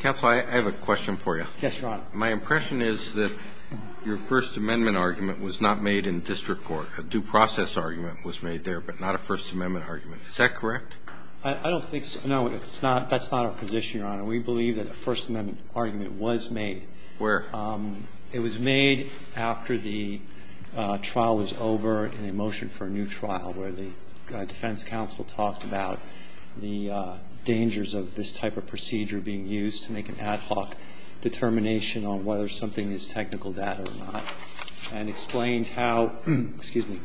Counsel, I have a question for you. Yes, Your Honor. My impression is that your First Amendment argument was not made in district court. A due process argument was made there, but not a First Amendment argument. Is that correct? I don't think so. No, that's not our position, Your Honor. We believe that a First Amendment argument was made. Where? It was made after the trial was over and a motion for a new trial where the defense counsel talked about the dangers of this type of procedure being used to make an ad hoc determination on whether something is technical, that or not. And explained how, excuse me,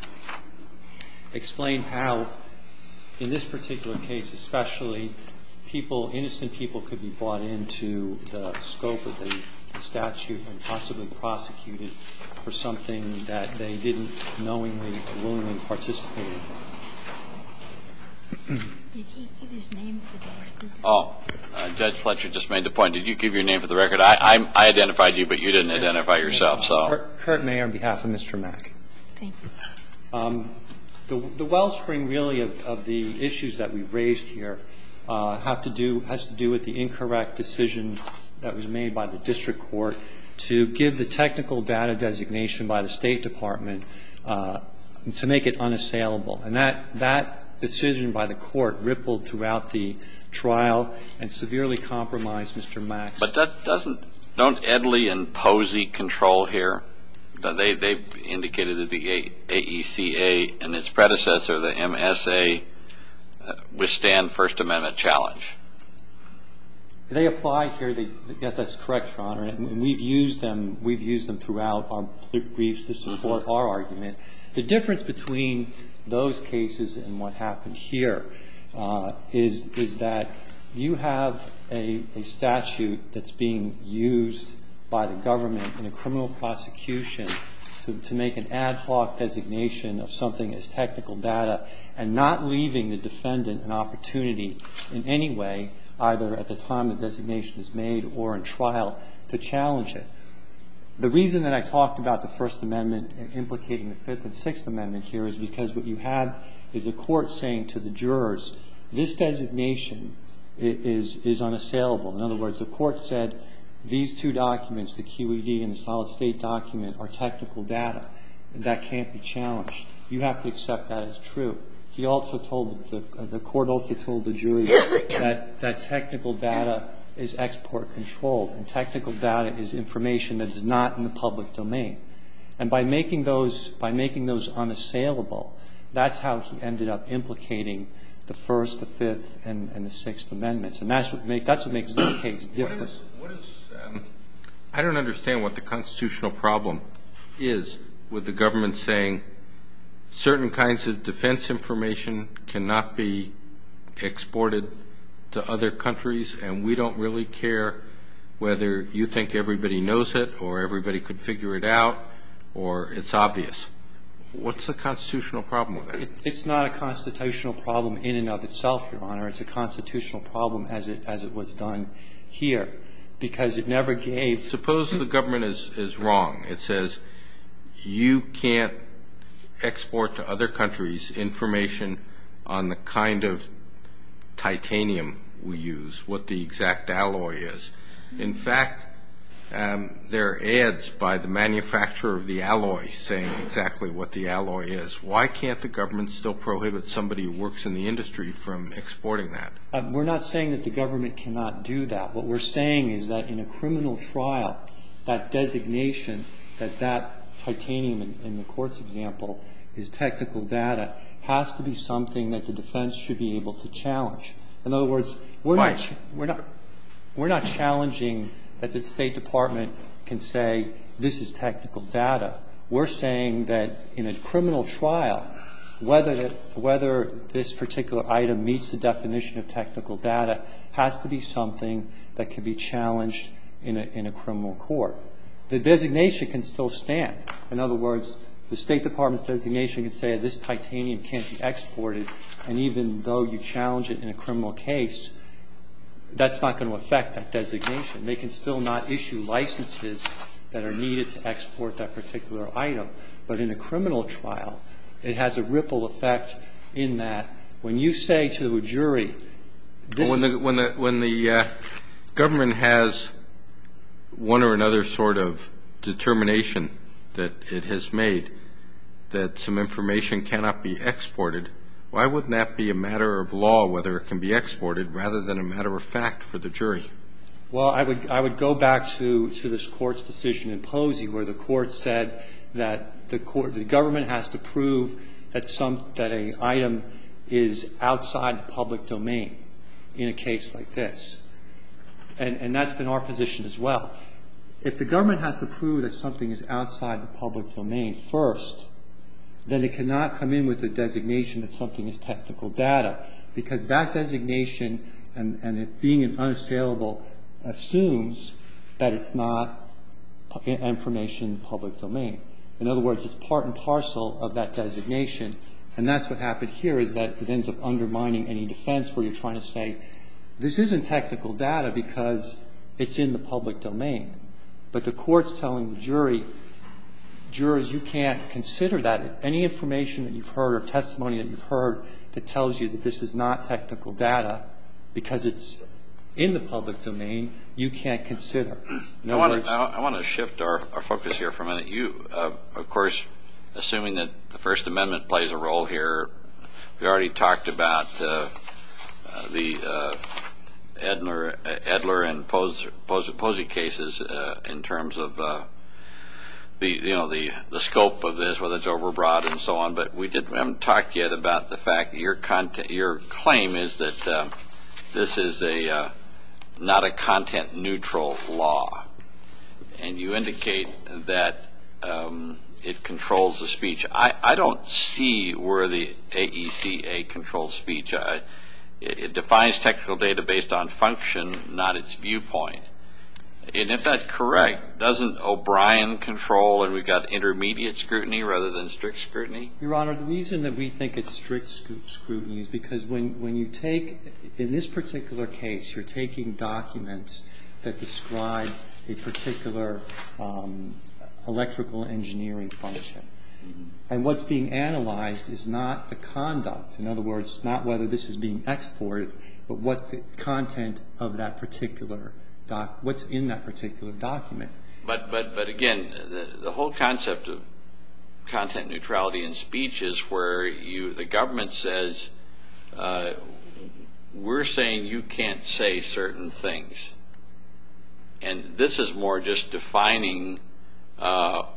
explained how, in this particular case especially, people, innocent people could be brought into the scope of the statute and possibly prosecuted for something that they didn't knowingly or willingly participate in. Did he give his name for the record? Judge Fletcher just made the point. Did you give your name for the record? I identified you, but you didn't identify yourself, so. Sure. I'm Mr. McClary. Thank you. Curt Mayer on behalf of Mr. Mack. Thank you. The wellspring really of the issues that we've raised here have to do, has to do with the incorrect decision that was made by the district court to give the technical data designation by the State Department to make it unassailable. And that decision by the court rippled throughout the trial and severely compromised Mr. Mack. But doesn't, don't Edley and Posey control here? They've indicated that the AECA and its predecessor, the MSA, withstand First Amendment challenge. They apply here. Yes, that's correct, Your Honor. And we've used them, we've used them throughout our briefs to support our argument. The difference between those cases and what happened here is that you have a statute that's being used by the government in a criminal prosecution to make an ad hoc designation of something as technical data and not leaving the defendant an opportunity in any way, either at the time the designation is made or in trial, to challenge it. The reason that I talked about the First Amendment implicating the Fifth and Sixth Amendment here is because what you have is a court saying to the jurors, this designation is unassailable. In other words, the court said these two documents, the QED and the solid state document, are technical data and that can't be challenged. You have to accept that as true. But he also told, the court also told the jury that technical data is export controlled and technical data is information that is not in the public domain. And by making those unassailable, that's how he ended up implicating the First, the Fifth, and the Sixth Amendments. And that's what makes this case different. I don't understand what the constitutional problem is with the government saying, certain kinds of defense information cannot be exported to other countries and we don't really care whether you think everybody knows it or everybody could figure it out or it's obvious. What's the constitutional problem? It's not a constitutional problem in and of itself, Your Honor. It's a constitutional problem as it was done here because it never gave. Suppose the government is wrong. It says you can't export to other countries information on the kind of titanium we use, what the exact alloy is. In fact, there are ads by the manufacturer of the alloy saying exactly what the alloy is. Why can't the government still prohibit somebody who works in the industry from exporting that? We're not saying that the government cannot do that. What we're saying is that in a criminal trial, that designation, that that titanium in the court's example is technical data, has to be something that the defense should be able to challenge. In other words, we're not challenging that the State Department can say this is technical data. We're saying that in a criminal trial, whether this particular item meets the definition of technical data has to be something that can be challenged in a criminal court. The designation can still stand. In other words, the State Department's designation can say this titanium can't be exported, and even though you challenge it in a criminal case, that's not going to affect that designation. They can still not issue licenses that are needed to export that particular item. But in a criminal trial, it has a ripple effect in that when you say to a jury this is- When the government has one or another sort of determination that it has made that some information cannot be exported, why wouldn't that be a matter of law whether it can be exported rather than a matter of fact for the jury? Well, I would go back to this court's decision in Posey where the court said that the government has to prove that a item is outside the public domain in a case like this. And that's been our position as well. If the government has to prove that something is outside the public domain first, then it cannot come in with a designation that something is technical data because that designation and it being unassailable assumes that it's not information in the public domain. In other words, it's part and parcel of that designation. And that's what happened here is that it ends up undermining any defense where you're trying to say this isn't technical data because it's in the public domain. But the court's telling the jury, jurors, you can't consider that. Any information that you've heard or testimony that you've heard that tells you that this is not technical data because it's in the public domain, you can't consider. I want to shift our focus here for a minute. Of course, assuming that the First Amendment plays a role here, we already talked about the Edler and Posey cases in terms of the scope of this, whether it's overbroad and so on. But we haven't talked yet about the fact that your claim is that this is not a content-neutral law. And you indicate that it controls the speech. I don't see where the AECA controls speech. It defines technical data based on function, not its viewpoint. And if that's correct, doesn't O'Brien control and we've got intermediate scrutiny rather than strict scrutiny? Your Honor, the reason that we think it's strict scrutiny is because when you take, in this particular case, you're taking documents that describe a particular electrical engineering function. And what's being analyzed is not the conduct, in other words, not whether this is being exported, but what's in that particular document. But, again, the whole concept of content neutrality in speech is where the government says, we're saying you can't say certain things. And this is more just defining what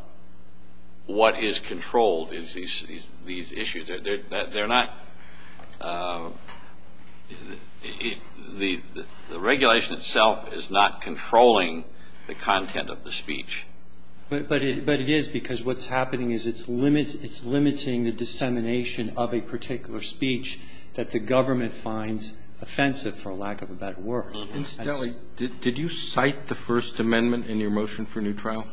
is controlled is these issues. They're not the regulation itself is not controlling the content of the speech. But it is because what's happening is it's limiting the dissemination of a particular speech that the government finds offensive, for lack of a better word. Did you cite the First Amendment in your motion for new trial?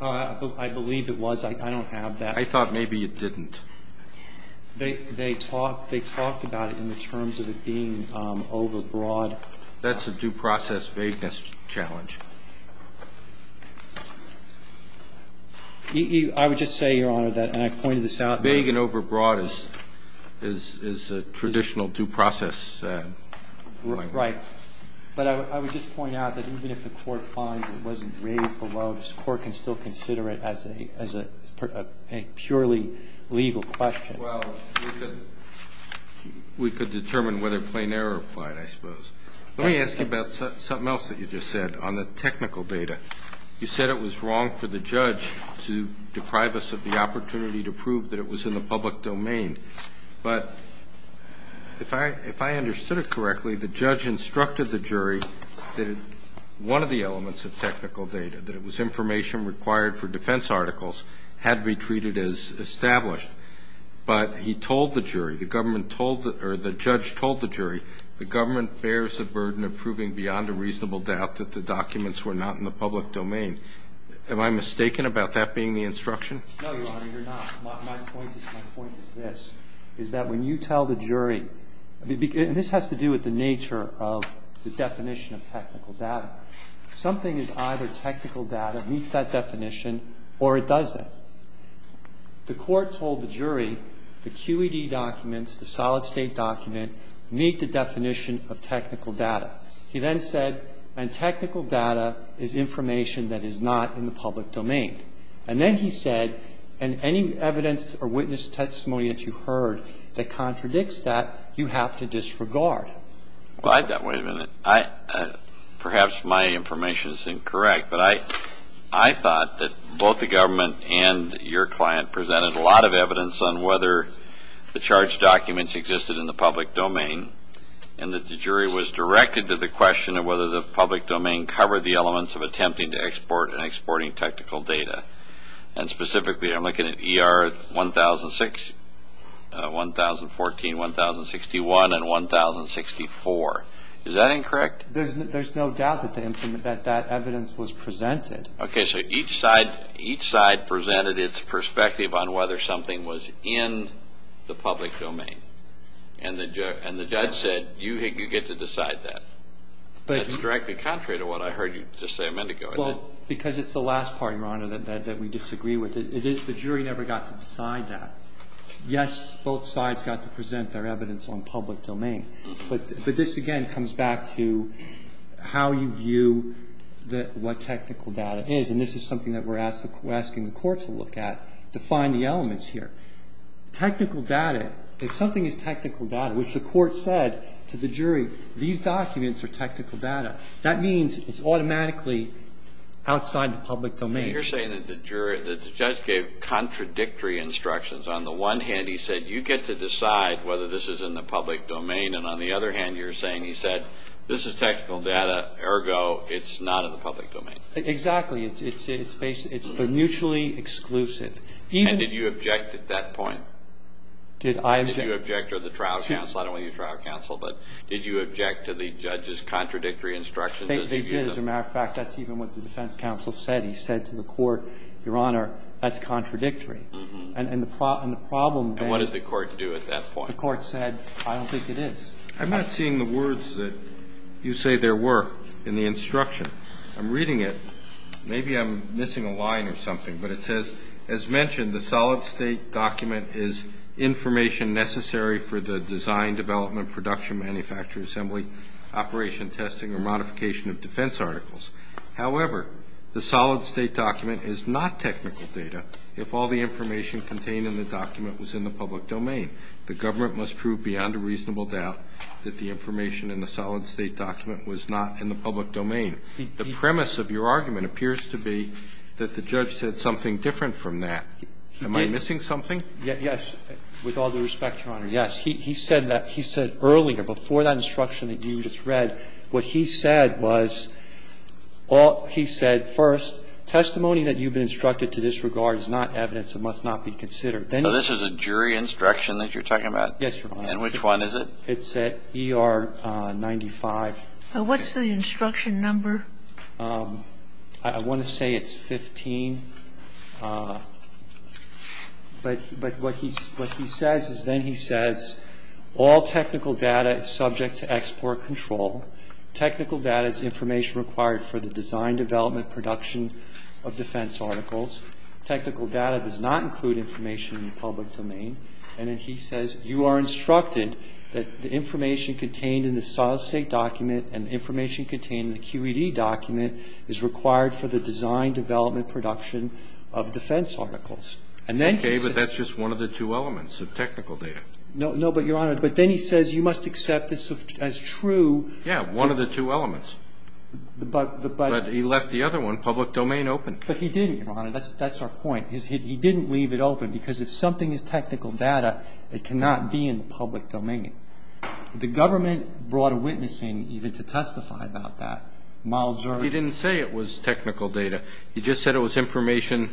I believe it was. I don't have that. I thought maybe it didn't. They talked about it in the terms of it being overbroad. That's a due process vagueness challenge. I would just say, Your Honor, that, and I pointed this out. Vague and overbroad is a traditional due process language. Right. But I would just point out that even if the Court finds it wasn't raised below, this Court can still consider it as a purely legal question. Well, we could determine whether plain error applied, I suppose. Let me ask you about something else that you just said on the technical data. You said it was wrong for the judge to deprive us of the opportunity to prove that it was in the public domain. But if I understood it correctly, the judge instructed the jury that one of the elements of technical data, that it was information required for defense articles, had to be treated as established. But he told the jury, the government told, or the judge told the jury, the government bears the burden of proving beyond a reasonable doubt that the documents were not in the public domain. Am I mistaken about that being the instruction? No, Your Honor, you're not. My point is this, is that when you tell the jury, and this has to do with the nature of the definition of technical data, something is either technical data meets that definition or it doesn't. The Court told the jury the QED documents, the solid state document, meet the definition of technical data. He then said, and technical data is information that is not in the public domain. And then he said, and any evidence or witness testimony that you heard that contradicts that, you have to disregard. Well, I thought, wait a minute, perhaps my information is incorrect, but I thought that both the government and your client presented a lot of evidence on whether the charged documents existed in the public domain and that the jury was directed to the question of whether the public domain covered the elements of attempting to export and exporting technical data. And specifically, I'm looking at ER 1006, 1014, 1061, and 1064. Is that incorrect? There's no doubt that that evidence was presented. Okay, so each side presented its perspective on whether something was in the public domain. And the judge said, you get to decide that. That's directly contrary to what I heard you just say a minute ago, isn't it? Well, because it's the last party, Your Honor, that we disagree with. The jury never got to decide that. Yes, both sides got to present their evidence on public domain. But this, again, comes back to how you view what technical data is. And this is something that we're asking the Court to look at, to find the elements here. Technical data, if something is technical data, which the Court said to the jury, these documents are technical data. That means it's automatically outside the public domain. You're saying that the judge gave contradictory instructions. On the one hand, he said, you get to decide whether this is in the public domain. And on the other hand, you're saying he said, this is technical data, ergo, it's not in the public domain. Exactly. It's mutually exclusive. And did you object at that point? Did I object? Did you object or the trial counsel? I don't know if you're a trial counsel, but did you object to the judge's contradictory instructions? They did. As a matter of fact, that's even what the defense counsel said. He said to the Court, Your Honor, that's contradictory. And the problem there is. And what did the Court do at that point? The Court said, I don't think it is. I'm not seeing the words that you say there were in the instruction. I'm reading it. Maybe I'm missing a line or something. But it says, as mentioned, the solid state document is information necessary for the design, development, production, manufacture, assembly, operation, testing, or modification of defense articles. However, the solid state document is not technical data if all the information contained in the document was in the public domain. The government must prove beyond a reasonable doubt that the information in the solid state document was not in the public domain. The premise of your argument appears to be that the judge said something different from that. Am I missing something? Yes. With all due respect, Your Honor, yes. He said that. He said earlier, before that instruction that you just read, what he said was, he said, first, testimony that you've been instructed to disregard is not evidence and must not be considered. Then he said. So this is a jury instruction that you're talking about? Yes, Your Honor. And which one is it? It's ER 95. What's the instruction number? I want to say it's 15. But what he says is then he says, all technical data is subject to export control. Technical data is information required for the design, development, production of defense articles. Technical data does not include information in the public domain. And then he says you are instructed that the information contained in the solid state document and information contained in the QED document is required for the design, development, production of defense articles. Okay, but that's just one of the two elements of technical data. No, but, Your Honor, but then he says you must accept this as true. Yes, one of the two elements. But he left the other one, public domain, open. But he didn't, Your Honor. That's our point. He didn't leave it open because if something is technical data, it cannot be in the public domain. The government brought a witness in even to testify about that. He didn't say it was technical data. He just said it was information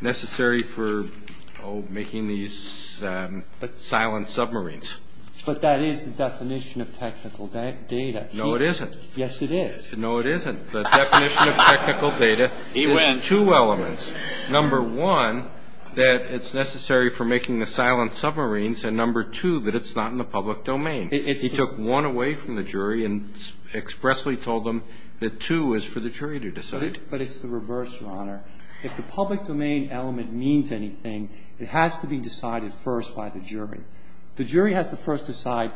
necessary for making these silent submarines. But that is the definition of technical data. No, it isn't. Yes, it is. No, it isn't. The definition of technical data is in two elements. Number one, that it's necessary for making the silent submarines, and number two, that it's not in the public domain. He took one away from the jury and expressly told them that two is for the jury to decide. But it's the reverse, Your Honor. If the public domain element means anything, it has to be decided first by the jury. The jury has to first decide,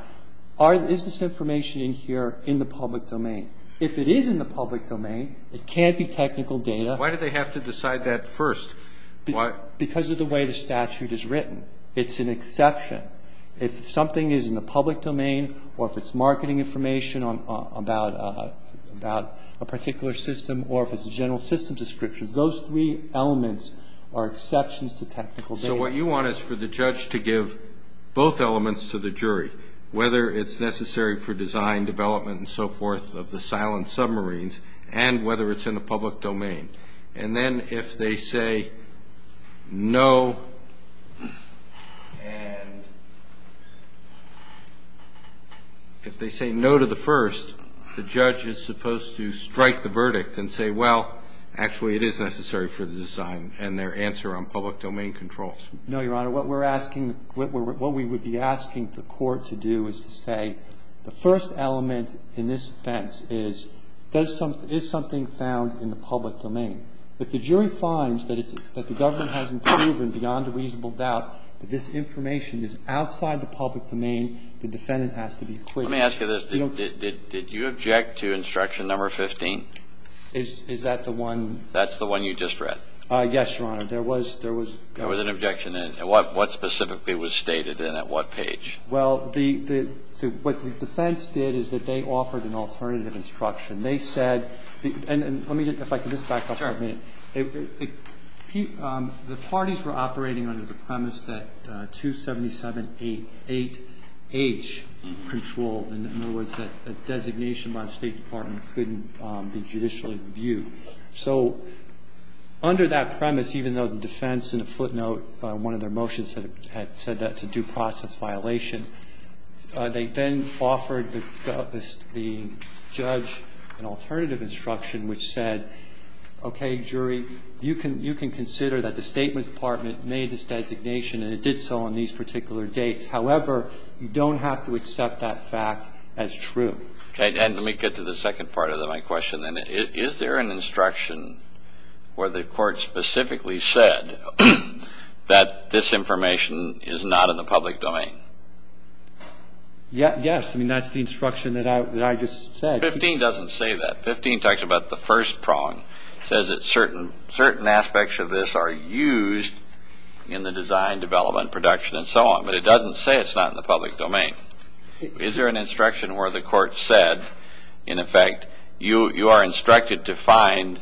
is this information in here in the public domain? If it is in the public domain, it can't be technical data. Why do they have to decide that first? Because of the way the statute is written. It's an exception. If something is in the public domain or if it's marketing information about a particular system or if it's a general system description, those three elements are exceptions to technical data. So what you want is for the judge to give both elements to the jury, whether it's necessary for design, development, and so forth of the silent submarines and whether it's in the public domain. And then if they say no, and if they say no to the first, the judge is supposed to strike the verdict and say, well, actually, it is necessary for the design and their answer on public domain controls. No, Your Honor. What we're asking, what we would be asking the Court to do is to say, the first element in this offense is, is something found in the public domain? If the jury finds that the government hasn't proven beyond a reasonable doubt that this information is outside the public domain, the defendant has to be acquitted. Let me ask you this. Did you object to Instruction No. 15? Is that the one? That's the one you just read. Yes, Your Honor. There was an objection. What specifically was stated and at what page? Well, what the defense did is that they offered an alternative instruction. They said, and let me just, if I can just back up for a minute. Sure. The parties were operating under the premise that 277.88H controlled, in other words, that designation by the State Department couldn't be judicially reviewed. So under that premise, even though the defense in a footnote, one of their motions had said that's a due process violation, they then offered the judge an alternative instruction which said, okay, jury, you can consider that the State Department made this designation and it did so on these particular dates. However, you don't have to accept that fact as true. Okay. And let me get to the second part of my question then. Is there an instruction where the court specifically said that this information is not in the public domain? Yes. I mean, that's the instruction that I just said. 15 doesn't say that. 15 talks about the first prong, says that certain aspects of this are used in the design, development, production, and so on. But it doesn't say it's not in the public domain. Is there an instruction where the court said, in effect, you are instructed to find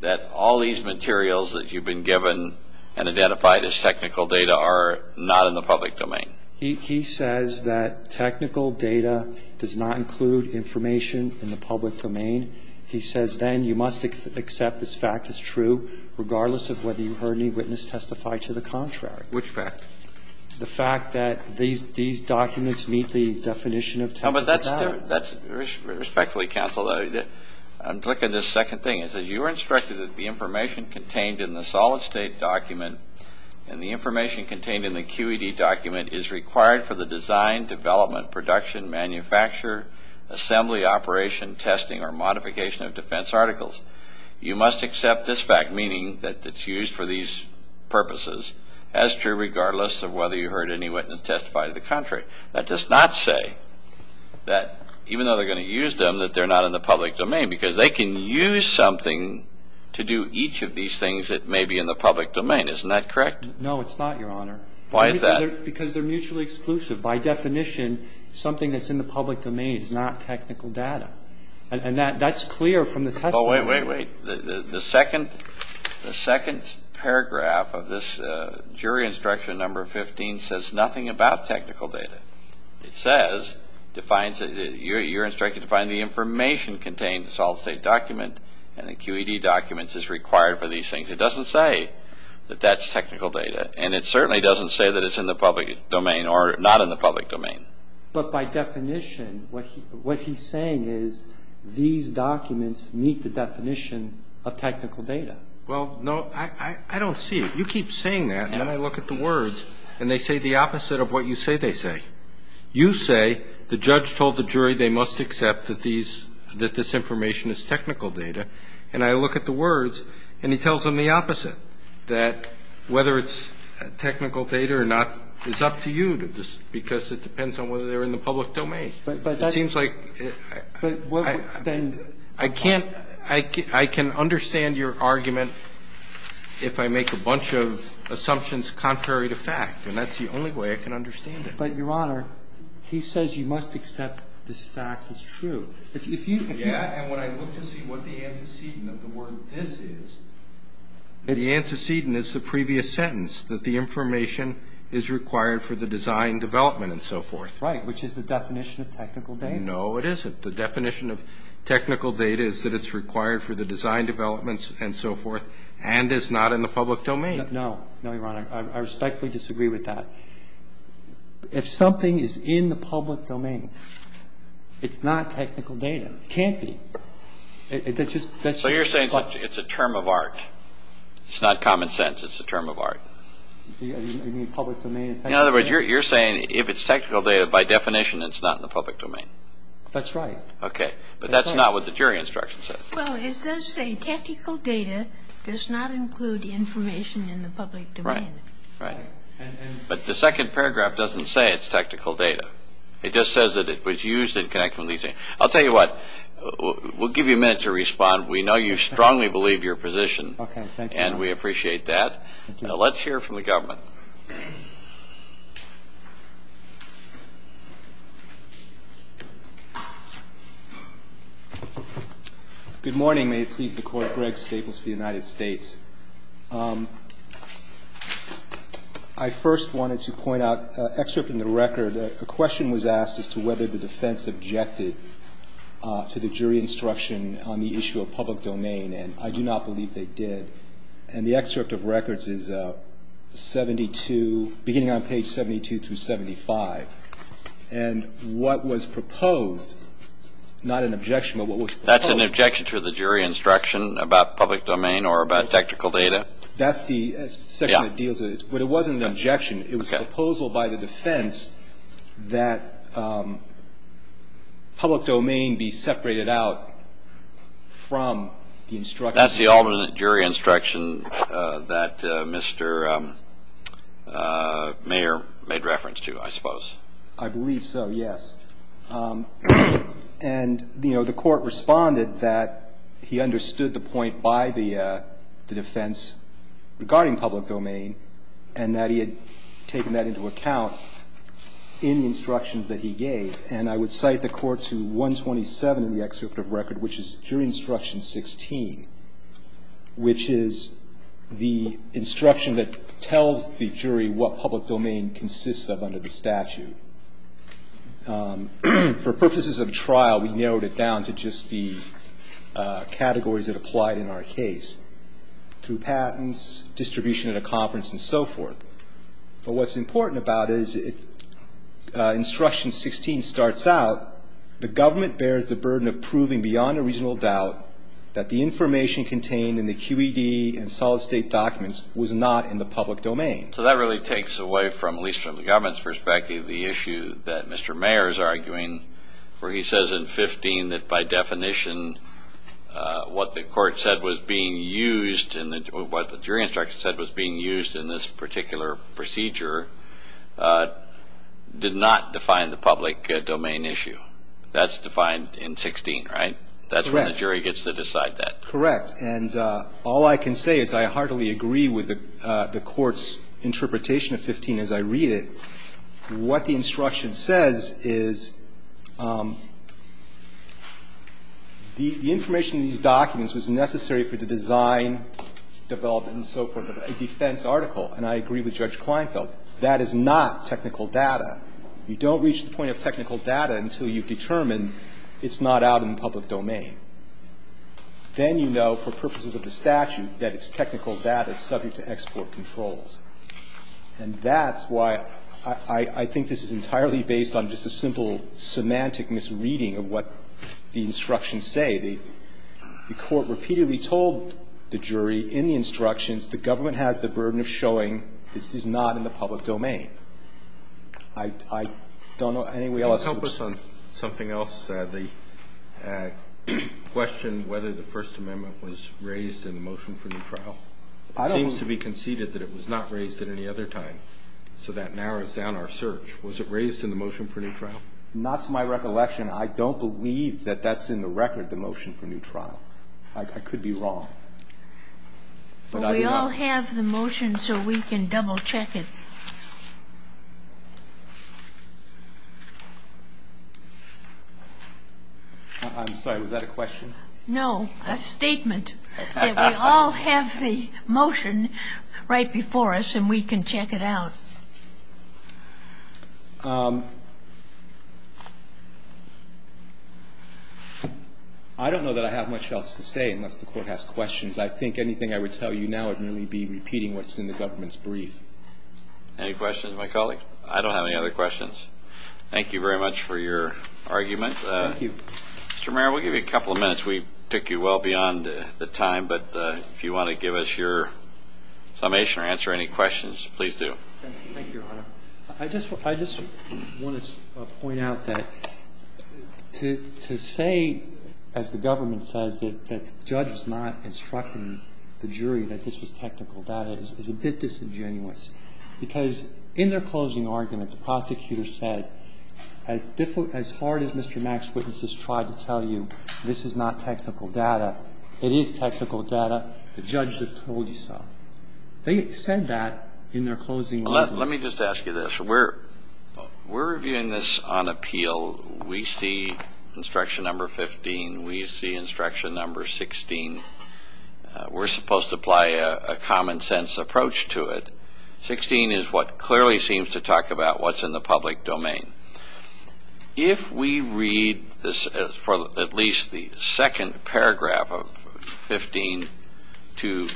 that all these materials that you've been given and identified as technical data are not in the public domain? He says that technical data does not include information in the public domain. He says then you must accept this fact as true regardless of whether you heard any witness testify to the contrary. Which fact? The fact that these documents meet the definition of technical data. Respectfully, counsel, I'm looking at this second thing. It says you were instructed that the information contained in the solid state document and the information contained in the QED document is required for the design, development, production, manufacture, assembly, operation, testing, or modification of defense articles. You must accept this fact, meaning that it's used for these purposes, as true regardless of whether you heard any witness testify to the contrary. That does not say that even though they're going to use them, that they're not in the public domain, because they can use something to do each of these things that may be in the public domain. Isn't that correct? No, it's not, Your Honor. Why is that? Because they're mutually exclusive. By definition, something that's in the public domain is not technical data. And that's clear from the testimony. Oh, wait, wait, wait. The second paragraph of this jury instruction number 15 says nothing about technical data. It says, defines, you're instructed to find the information contained in the solid state document and the QED documents is required for these things. It doesn't say that that's technical data. And it certainly doesn't say that it's in the public domain or not in the public domain. But by definition, what he's saying is these documents meet the definition of technical data. Well, no, I don't see it. You keep saying that, and then I look at the words, and they say the opposite of what you say they say. You say the judge told the jury they must accept that this information is technical data. And I look at the words, and he tells them the opposite, that whether it's technical data or not is up to you, because it depends on whether they're in the public domain. It seems like I can't – I can understand your argument if I make a bunch of assumptions contrary to fact, and that's the only way I can understand it. But, Your Honor, he says you must accept this fact is true. If you – Yeah, and when I look to see what the antecedent of the word this is, the antecedent is the previous sentence, that the information is required for the design development and so forth. Right, which is the definition of technical data. No, it isn't. The definition of technical data is that it's required for the design developments and so forth and is not in the public domain. No. No, Your Honor. I respectfully disagree with that. If something is in the public domain, it's not technical data. It can't be. That's just – So you're saying it's a term of art. It's not common sense. It's a term of art. You mean public domain and technical data? In other words, you're saying if it's technical data, by definition, it's not in the public domain. That's right. Okay. But that's not what the jury instruction says. Well, it does say technical data does not include information in the public domain. Right. But the second paragraph doesn't say it's technical data. It just says that it was used in connection with these things. I'll tell you what. We'll give you a minute to respond. We know you strongly believe your position. Okay. Thank you, Your Honor. And we appreciate that. Let's hear from the government. Good morning. May it please the Court. Greg Staples for the United States. I first wanted to point out an excerpt in the record. A question was asked as to whether the defense objected to the jury instruction on the issue of public domain. And I do not believe they did. And the excerpt of records is beginning on page 72 through 75. And what was proposed, not an objection, but what was proposed. That's an objection to the jury instruction about public domain or about technical data? That's the section that deals with it. Yeah. But it wasn't an objection. It was a proposal by the defense that public domain be separated out from the instruction. That's the alternate jury instruction that Mr. Mayer made reference to, I suppose. I believe so, yes. And, you know, the Court responded that he understood the point by the defense regarding public domain and that he had taken that into account in the instructions that he gave. And I would cite the Court to 127 in the excerpt of record, which is jury instruction 16, which is the instruction that tells the jury what public domain consists of under the statute. For purposes of trial, we narrowed it down to just the categories that applied in our case. Through patents, distribution at a conference, and so forth. But what's important about it is instruction 16 starts out, the government bears the burden of proving beyond a reasonable doubt that the information contained in the QED and solid state documents was not in the public domain. So that really takes away from, at least from the government's perspective, the issue that Mr. Mayer is arguing where he says in 15 that by definition, what the Court said was being used in the, what the jury instruction said was being used in this particular procedure did not define the public domain issue. That's defined in 16, right? That's when the jury gets to decide that. Correct. And all I can say is I heartily agree with the Court's interpretation of 15 as I read it. What the instruction says is the information in these documents was necessary for the design, development, and so forth of a defense article. And I agree with Judge Kleinfeld. That is not technical data. You don't reach the point of technical data until you've determined it's not out in the public domain. Then you know for purposes of the statute that it's technical data subject to export controls. And that's why I think this is entirely based on just a simple semantic misreading of what the instructions say. The Court repeatedly told the jury in the instructions the government has the burden of showing this is not in the public domain. I don't know of any way else. Can you help us on something else, the question whether the First Amendment was raised in the motion for new trial? It seems to be conceded that it was not raised at any other time. So that narrows down our search. Was it raised in the motion for new trial? Not to my recollection. I don't believe that that's in the record, the motion for new trial. I could be wrong. We all have the motion so we can double check it. I'm sorry. Was that a question? No. A statement. We all have the motion right before us and we can check it out. I don't know that I have much else to say unless the Court has questions. I think anything I would tell you now would merely be repeating what's in the government's brief. Any questions of my colleagues? I don't have any other questions. Thank you very much for your argument. Mr. Mayor, we'll give you a couple of minutes. We took you well beyond the time. But if you want to give us your summation or answer any questions, please do. Thank you, Your Honor. I just want to point out that to say, as the government says, that the judge is not instructing the jury that this was technical data is a bit disingenuous. Because in their closing argument, the prosecutor said, as hard as Mr. Mack's witnesses tried to tell you this is not technical data, it is technical data. The judge just told you so. They said that in their closing argument. Let me just ask you this. We're reviewing this on appeal. We see instruction number 15. We see instruction number 16. We're supposed to apply a common sense approach to it. 16 is what clearly seems to talk about what's in the public domain. If we read this for at least the second paragraph of 15 to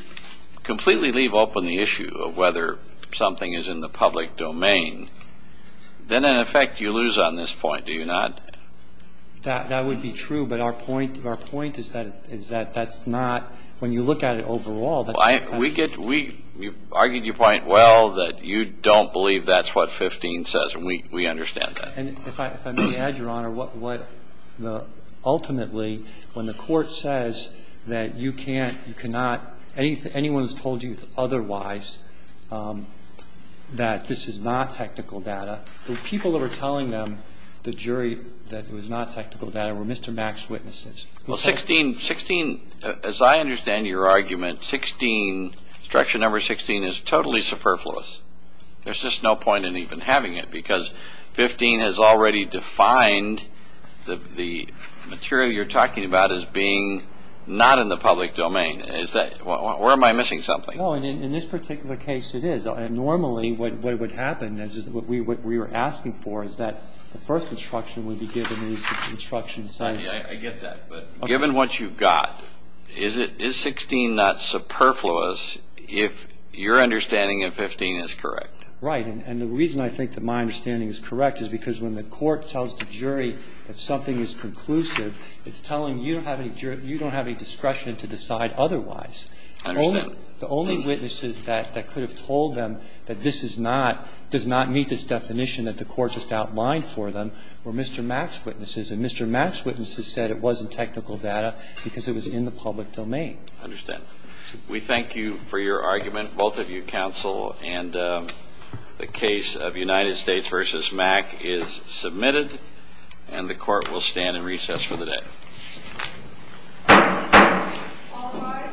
completely leave open the issue of whether something is in the public domain, then in effect you lose on this point, do you not? That would be true. But our point is that that's not, when you look at it overall, that's not technical data. We argued your point well, that you don't believe that's what 15 says. And we understand that. And if I may add, Your Honor, ultimately when the court says that you can't, you cannot, anyone who's told you otherwise that this is not technical data, the people that were telling them the jury that it was not technical data were Mr. Mack's witnesses. Well, 16, as I understand your argument, 16, instruction number 16 is totally superfluous. There's just no point in even having it because 15 has already defined the material you're talking about as being not in the public domain. Where am I missing something? No, in this particular case it is. Normally what would happen, what we were asking for, is that the first instruction would be given in the instruction setting. I get that. But given what you've got, is 16 not superfluous if your understanding of 15 is correct? Right. And the reason I think that my understanding is correct is because when the court tells the jury that something is conclusive, it's telling you you don't have any discretion to decide otherwise. I understand. The only witnesses that could have told them that this is not, does not meet this definition that the court just outlined for them were Mr. Mack's witnesses. And Mr. Mack's witnesses said it wasn't technical data because it was in the public domain. I understand. We thank you for your argument, both of you, counsel. And the case of United States v. Mack is submitted. And the Court will stand in recess for the day. All rise. Court stands in recess.